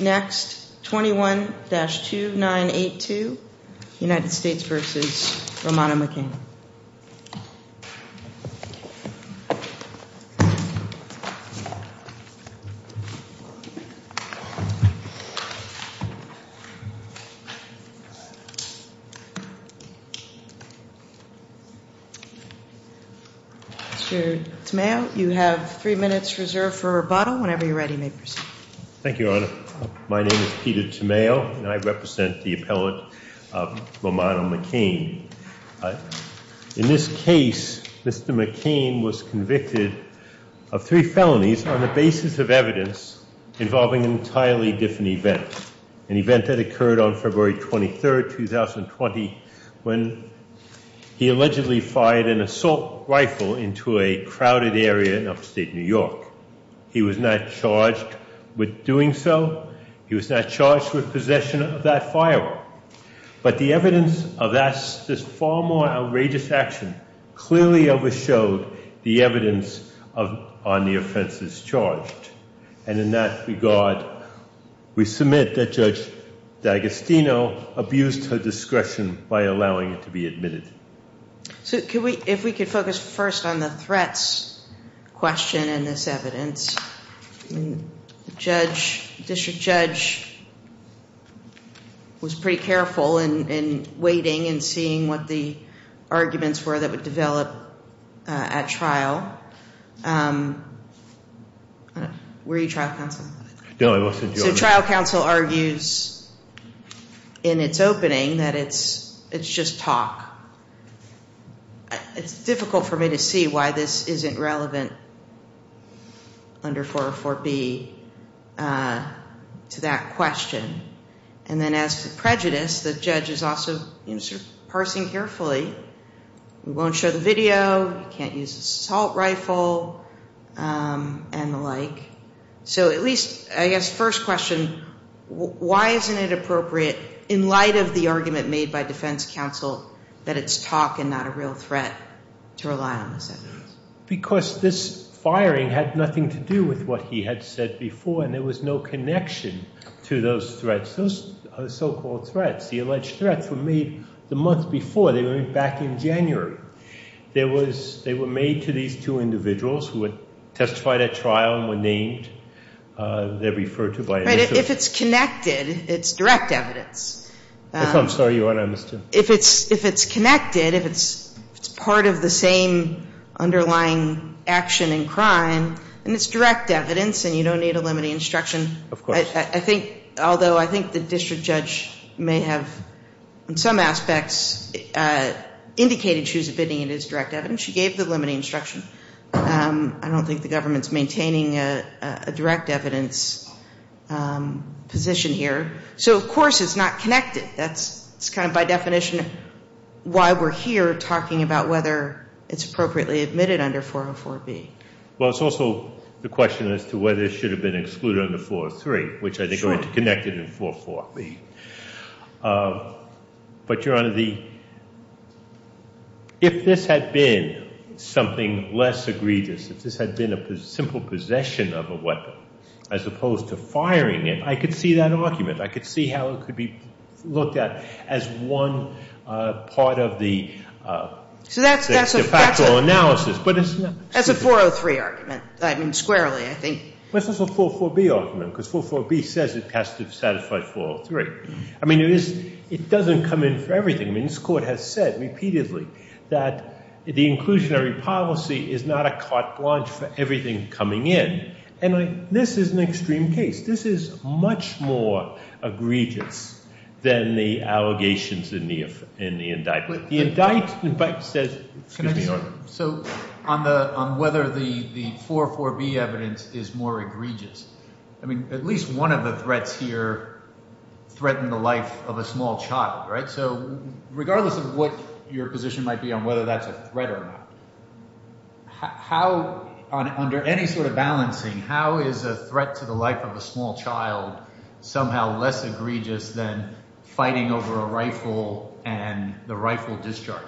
Next, 21-2982, United States v. Romano McCain Mr. Tamayo, you have three minutes reserved for rebuttal. Whenever you're ready, you may proceed. Thank you, Your Honor. My name is Peter Tamayo, and I represent the appellant Romano McCain. In this case, Mr. McCain was convicted of three felonies on the basis of evidence involving an entirely different event, an event that occurred on February 23, 2020, when he allegedly fired an assault rifle into a crowded area in upstate New York. He was not charged with doing so. He was not charged with possession of that firearm. But the evidence of this far more outrageous action clearly overshowed the evidence on the offenses charged. And in that regard, we submit that Judge D'Agostino abused her discretion by allowing it to be admitted. So, if we could focus first on the threats question in this evidence. The judge, district judge, was pretty careful in waiting and seeing what the arguments were that would develop at trial. Were you trial counsel? No, I wasn't, Your Honor. The trial counsel argues in its opening that it's just talk. It's difficult for me to see why this isn't relevant under 404B to that question. And then as to prejudice, the judge is also parsing carefully. He won't show the video, he can't use the assault rifle, and why isn't it appropriate in light of the argument made by defense counsel that it's talk and not a real threat to rely on this evidence? Because this firing had nothing to do with what he had said before, and there was no connection to those threats. Those so-called threats, the alleged threats were made the month before. They were made back in January. They were made to these two individuals who testified at trial and were named. They're referred to by initials. Right. If it's connected, it's direct evidence. I'm sorry, Your Honor, I missed you. If it's connected, if it's part of the same underlying action and crime, then it's direct evidence and you don't need a limiting instruction. Of course. I think, although I think the district judge may have, in some aspects, indicated she was I don't think the government's maintaining a direct evidence position here. So, of course, it's not connected. That's kind of by definition why we're here talking about whether it's appropriately admitted under 404B. Well, it's also the question as to whether it should have been excluded under 403, which I think are connected in 404B. But, Your Honor, if this had been something less egregious, if this had been a simple possession of a weapon as opposed to firing it, I could see that argument. I could see how it could be looked at as one part of the de facto analysis. That's a 403 argument. I mean, squarely, I think. Well, it's also a 404B argument because 404B says it has to satisfy 403. I mean, it doesn't come in for everything. I mean, this Court has said repeatedly that the inclusionary policy is not a carte blanche for everything coming in. And this is an extreme case. This is much more egregious than the allegations in the indictment. But the indictment says Excuse me, Your Honor. So, on whether the 404B evidence is more egregious, I mean, at least one of the threats here threatened the life of a small child, right? So, regardless of what your position might be on whether that's a threat or not, how, under any sort of balancing, how is a threat to the life of a small child somehow less egregious than fighting over a rifle and the rifle discharged?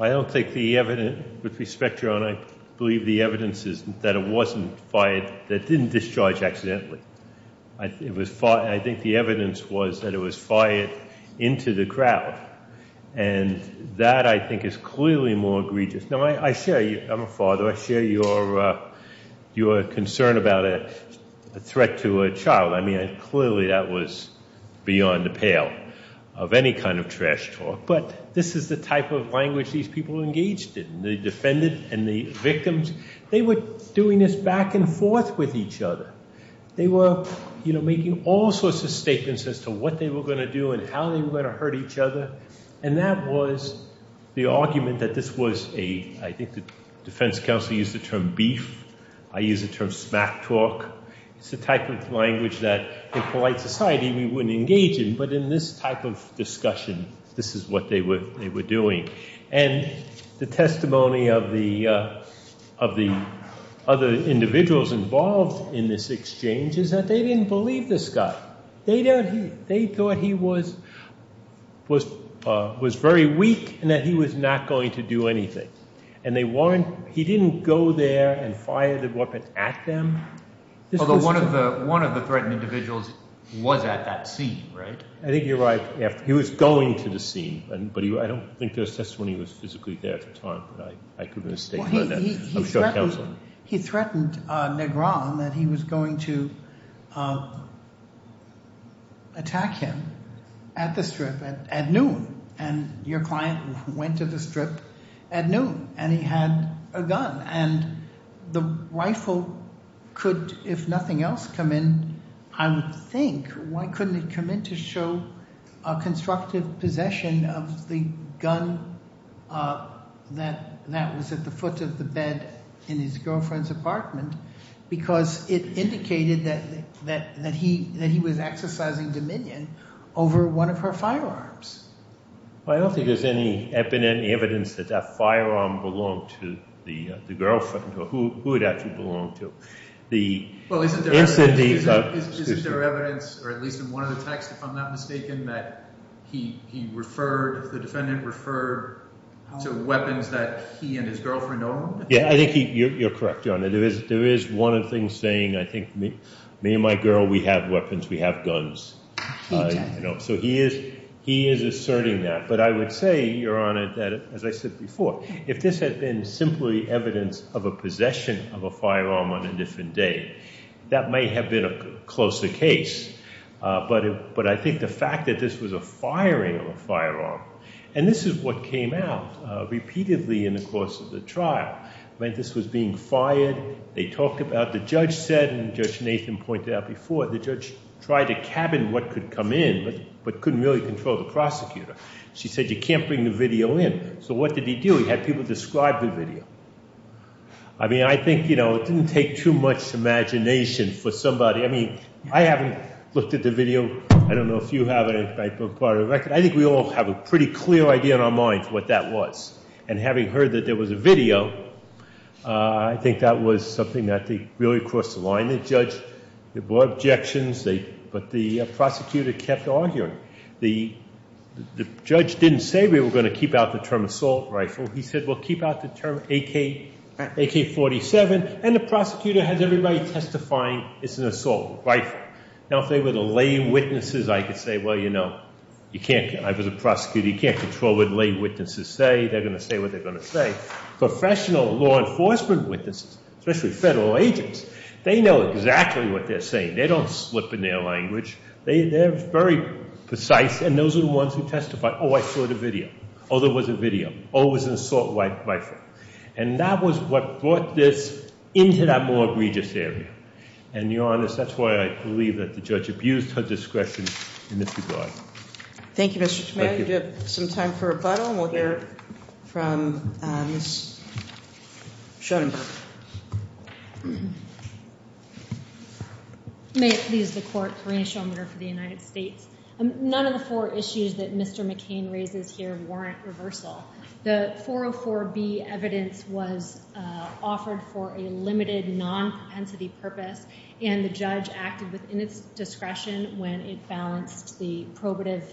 I don't think the evidence, with respect, Your Honor, I believe the evidence is that it wasn't fired, that it didn't discharge accidentally. I think the evidence was that it was fired into the crowd. And that, I think, is clearly more egregious. Now, I share, I'm a father, I share your concern about a threat to a child. I mean, clearly that was beyond the pale of any kind of trash talk. But this is the type of language these people engaged in. The defendant and the victims, they were doing this back and were going to do and how they were going to hurt each other. And that was the argument that this was a, I think the defense counsel used the term beef. I use the term smack talk. It's the type of language that, in polite society, we wouldn't engage in. But in this type of discussion, this is what they were doing. And the testimony of the other individuals involved in this exchange is that they didn't believe this guy. They thought he was very weak and that he was not going to do anything. And they weren't, he didn't go there and fire the weapon at them. Although one of the threatened individuals was at that scene, right? I think you're right. He was going to the scene. But I don't think there was testimony that he was physically there at the time, but I could have mistakenly heard that. He threatened Negron that he was going to attack him at the strip at noon. And your client went to the strip at noon and he had a gun. And the rifle could, if nothing else, come in, I would think, why couldn't it come in to show a constructive possession of the gun that was at the foot of the bed in his girlfriend's apartment because it indicated that he was exercising dominion over one of her firearms. Well, I don't think there's any evidence that that firearm belonged to the girlfriend or who it actually belonged to. Well, isn't there evidence, or at least in one of the texts, if I'm not mistaken, that he referred, the defendant referred to weapons that he and his girlfriend owned? Yeah, I think you're correct, Your Honor. There is one of the things saying, I think, me and my girl, we have weapons, we have guns. So he is asserting that. But I would say, Your Honor, that, as I said before, if this had been simply evidence of a possession of a firearm on a different day, that might have been a closer case. But I think the fact that this was a firing of a firearm, and this is what came out repeatedly in the course of the trial, meant this was being fired, they talked about, the judge said, and Judge Nathan pointed out before, the judge tried to cabin what could come in but couldn't really control the prosecutor. She said, you can't bring the video in. So what did he do? He had people describe the video. I mean, I think, you know, it didn't take too much imagination for somebody, I mean, I haven't looked at the video, I don't know if you have, I think we all have a pretty clear idea in our minds what that was. And having heard that there was a video, I think that was something that really crossed the line. The judge, there were objections, but the prosecutor kept arguing. The judge didn't say we were going to keep out the term assault rifle. He said, well, keep out the term AK-47, and the prosecutor has everybody testifying it's an assault rifle. Now if they were the lay witnesses, I could say, well, you know, I was a prosecutor, you can't control what lay witnesses say, they're going to say what they're going to say. Professional law enforcement witnesses, especially federal agents, they know exactly what they're saying. They don't slip in their language. They're very precise, and those are the ones who testify. Oh, I saw the video. Oh, there was a video. Oh, it was an assault rifle. And that was what brought this into that more egregious area. And to be honest, that's why I believe that the judge abused her discretion in this regard. Thank you, Mr. Schmatty. We have some time for rebuttal, and we'll hear from Ms. Schottenberg. May it please the Court, Karina Schottenberg for the United States. None of the four issues that Mr. McCain raises here warrant reversal. The 404B evidence was offered for a limited, non-propensity purpose, and the judge acted within its discretion when it balanced the probative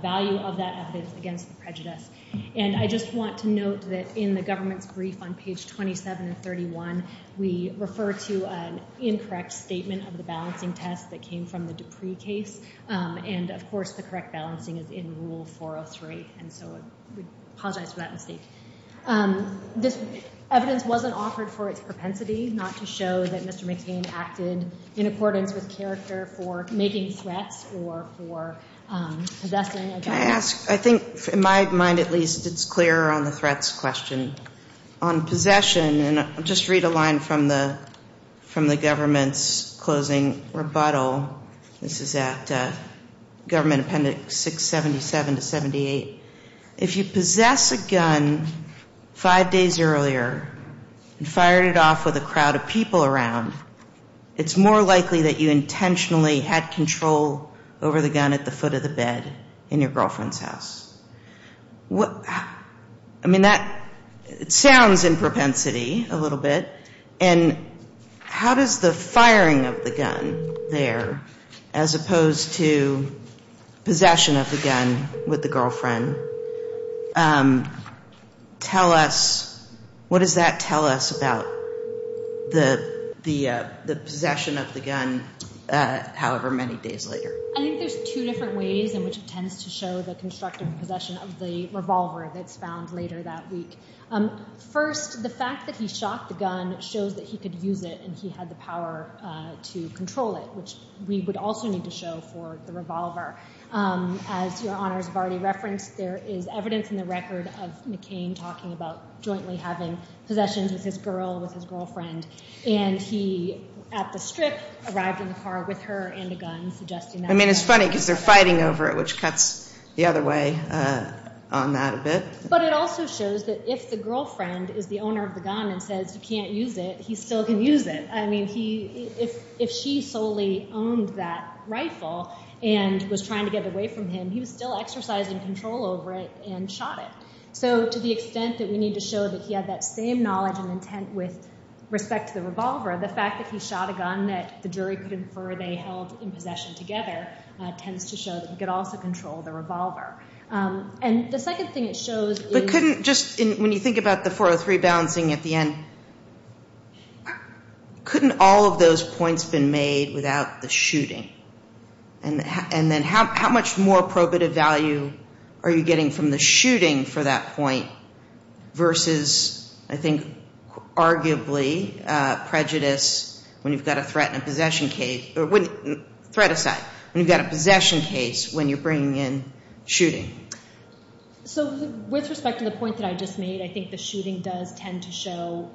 value of that evidence against the prejudice. And I just want to note that in the government's brief on page 27 and 31, we refer to an incorrect statement of the balancing test that came from the Dupree case. And of course, the correct balancing is in Rule 403. And so we apologize for that mistake. This evidence wasn't offered for its propensity, not to show that Mr. McCain acted in accordance with character for making threats or for possessing a gun. I think, in my mind at least, it's clearer on the threats question. On possession, and I'll just read a line from the government's closing rebuttal. This is at Government Appendix 677-78. If you possess a gun five days earlier and fired it off with a crowd of people around, it's more likely that you intentionally had control over the gun at the foot of the bed in your girlfriend's house. I mean, that sounds in propensity a little bit. And how does the firing of the gun there, as opposed to possession of the gun with the girlfriend, tell us, what does that tell us about the possession of the gun however many days later? I think there's two different ways in which it tends to show the constructive possession of the revolver that's found later that week. First, the fact that he shot the gun shows that he could use it and he had the power to control it, which we would also need to show for the revolver. As your honors have already referenced, there is evidence in the record of McCain talking about jointly having possessions with his girl, with his girlfriend. And he, at the strip, arrived in the car with her and a gun, suggesting that... I mean, it's funny because they're fighting over it, which cuts the other way on that a bit. But it also shows that if the girlfriend is the owner of the gun and says you can't use it, he still can use it. I mean, if she solely owned that rifle and was trying to get away from him, he was still exercising control over it and shot it. So to the extent that we need to show that he had that same knowledge and intent with respect to the revolver, the fact that he shot a gun that the jury could infer they held in possession together tends to show that he could also control the revolver. And the second thing it shows is... But couldn't just... When you think about the 403 balancing at the end, couldn't all of those points have been made without the shooting? And then how much more probative value are you getting from the shooting for that point versus, I think, arguably, prejudice when you've got a threat in a possession case... Threat aside, when you've got a possession case when you're bringing in shooting. So with respect to the point that I just made, I think the shooting does tend to show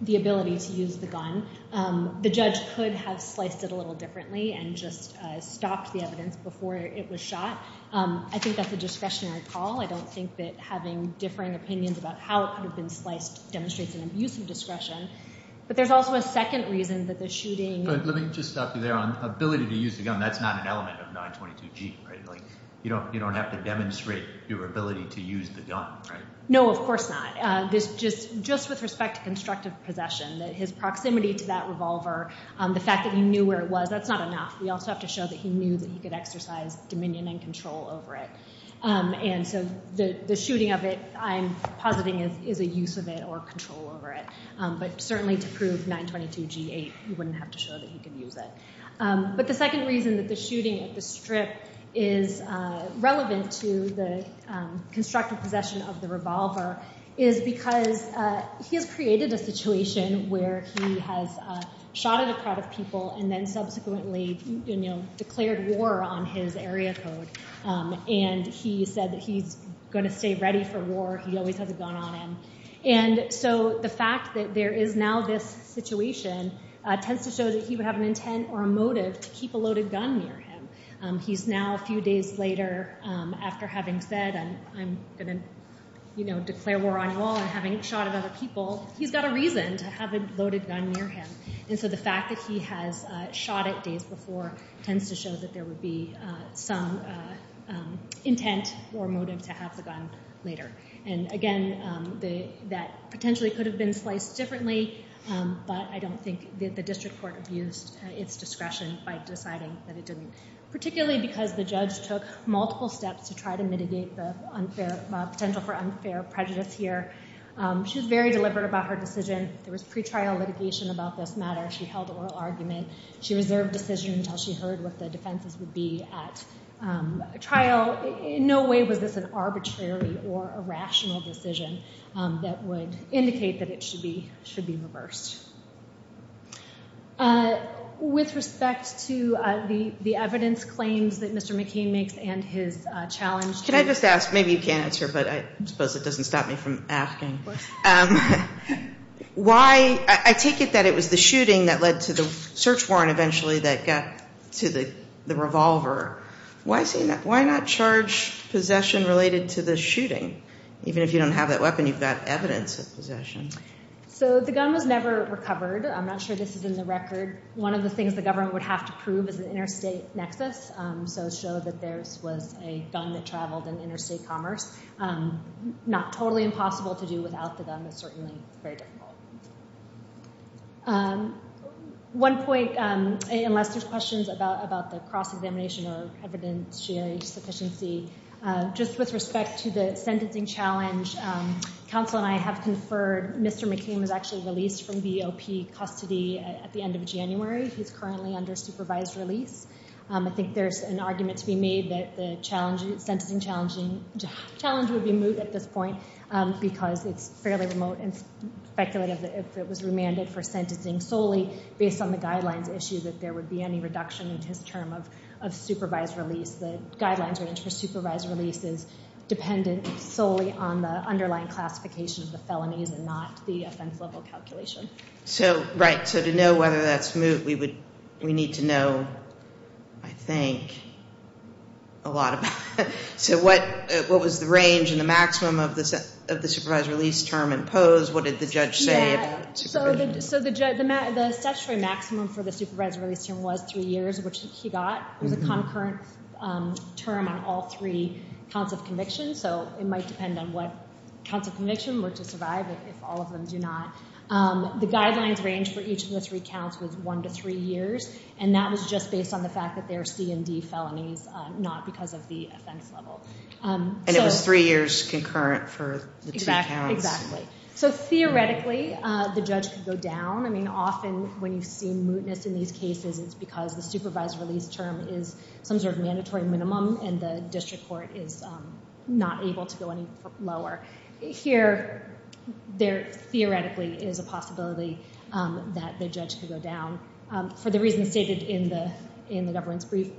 the ability to use the gun. The judge could have sliced it a little differently and just stopped the evidence before it was shot. I think that's a discretionary call. I don't think that having differing opinions about how it could have been sliced demonstrates an abuse of discretion. But there's also a second reason that the shooting... But let me just stop you there on ability to use the gun. That's not an element of 922G, right? You don't have to demonstrate your ability to use the gun, right? No, of course not. Just with respect to constructive possession, his proximity to that revolver, the fact that he knew where it was, that's not enough. We also have to show that he knew that he could exercise dominion and control over it. And so the shooting of it, I'm positing, is a use of it or control over it. But certainly to prove 922G-8, you wouldn't have to show that he could use it. But the second reason that the shooting at the strip is relevant to the constructive possession of the revolver is because he has created a situation where he has shot at a crowd of people and then subsequently declared war on his area code. And he said that he's going to stay ready for war. He always has a gun on him. And so the fact that there is now this situation tends to show that he would have an intent or a motive to keep a loaded gun near him. He's now, a few days later, after having said, I'm going to declare war on you all and having shot at other people, he's got a reason to have a loaded gun near him. And so the fact that he has shot it days before tends to show that there would be some intent or motive to have the gun later. And again, that potentially could have been sliced differently, but I don't think that the district court abused its discretion by deciding that it didn't, particularly because the judge took multiple steps to try to mitigate the potential for unfair prejudice here. She was very deliberate about her decision. There was pre-trial litigation about this matter. She held oral argument. She reserved decision until she heard what the defenses would be at trial. In no way was this an arbitrary or a rational decision that would indicate that it should be reversed. With respect to the evidence claims that Mr. McCain makes and his challenge... Can I just ask, maybe you can't answer, but I suppose it doesn't stop me from asking. Of course. Why, I take it that it was the shooting that led to the search warrant eventually that got to the revolver. Why not charge possession related to the shooting? Even if you don't have that weapon, you've got evidence of possession. The gun was never recovered. I'm not sure this is in the record. One of the things the government would have to prove is an interstate nexus, so show that there was a gun that traveled in interstate commerce. Not totally impossible to do without the gun, but certainly very difficult. One point, unless there's questions about the cross-examination or evidence sharing sufficiency, just with respect to the sentencing challenge, counsel and I have conferred Mr. McCain was actually released from BOP custody at the end of January. He's currently under supervised release. I think there's an argument to be made that the sentencing challenge would be moved at this point because it's fairly remote and speculative if it was remanded for sentencing solely based on the guidelines issue that there would be any reduction in his term of supervised release. The guidelines for supervised release is dependent solely on the underlying classification of the felonies and not the offense level calculation. To know whether that's moved we need to know I think a lot about it. What was the range and the maximum of the supervised release term imposed? What did the judge say? The statutory maximum for the supervised release term was three years, which he got. It was a concurrent term on all three counts of conviction so it might depend on what counts of conviction were to survive if all of them do not. The guidelines range for each of the three counts was one to three years and that was just based on the fact that they were C&D felonies not because of the offense level. And it was three years concurrent for the two counts? Theoretically, the judge could go down. Often when you see mootness in these cases it's because the supervised release term is some sort of mandatory minimum and the district court is not able to go any lower. Here, there theoretically is a possibility that the judge could go down for the reasons stated in the governance brief.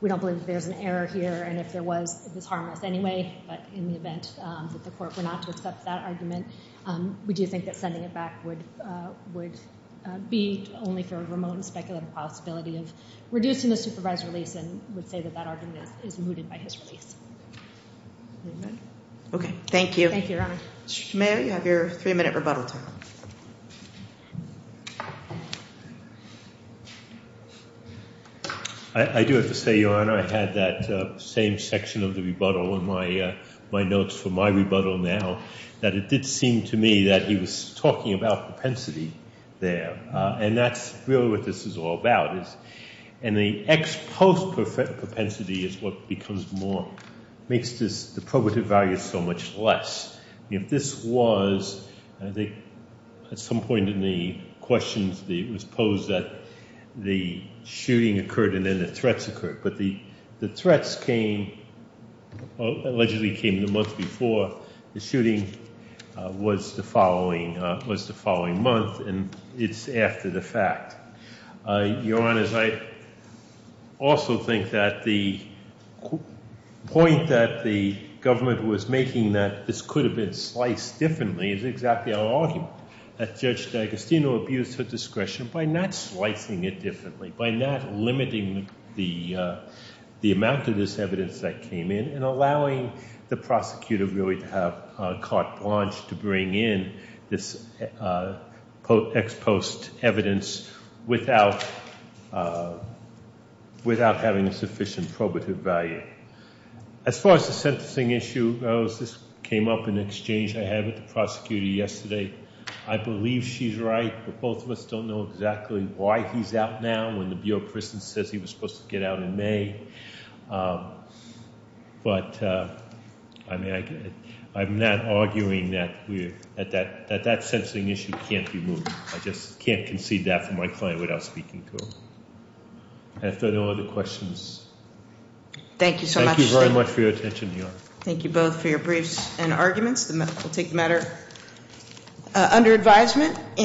We don't believe there's an error here and if there was, it was harmless anyway, but in the event that the court were not to accept that argument we do think that sending it back would be only for a remote and speculative possibility of reducing the supervised release and would say that that argument is mooted by his release. Okay, thank you. Mayor, you have your three minute rebuttal time. I do have to say, Your Honor, I had that same section of the rebuttal in my notes for my rebuttal now that it did seem to me that he was talking about propensity there and that's really what this is all about. And the ex post propensity is what becomes more makes the probative value so much less. If this was I think at some point in the questions it was posed that the shooting occurred and then the threats occurred but the threats came allegedly came the month before the shooting was the following was the following month and it's after the fact. Your Honor, I also think that the point that the government was making that this could have been sliced differently is exactly our argument that Judge D'Agostino abused her discretion by not slicing it differently by not limiting the amount of this evidence that came in and allowing the prosecutor really to have carte blanche to bring in this ex post evidence without having sufficient probative value. As far as the sentencing issue goes, this came up in exchange I had with the prosecutor yesterday. I believe she's right but both of us don't know exactly why he's out now when the Bureau of Prisons says he was supposed to get out in May but I'm not arguing that that sentencing issue can't be moved. I just can't concede that from my client without speaking to her. If there are no other questions Thank you so much Thank you very much for your attention, Your Honor. Thank you both for your briefs and arguments We'll take the matter under advisement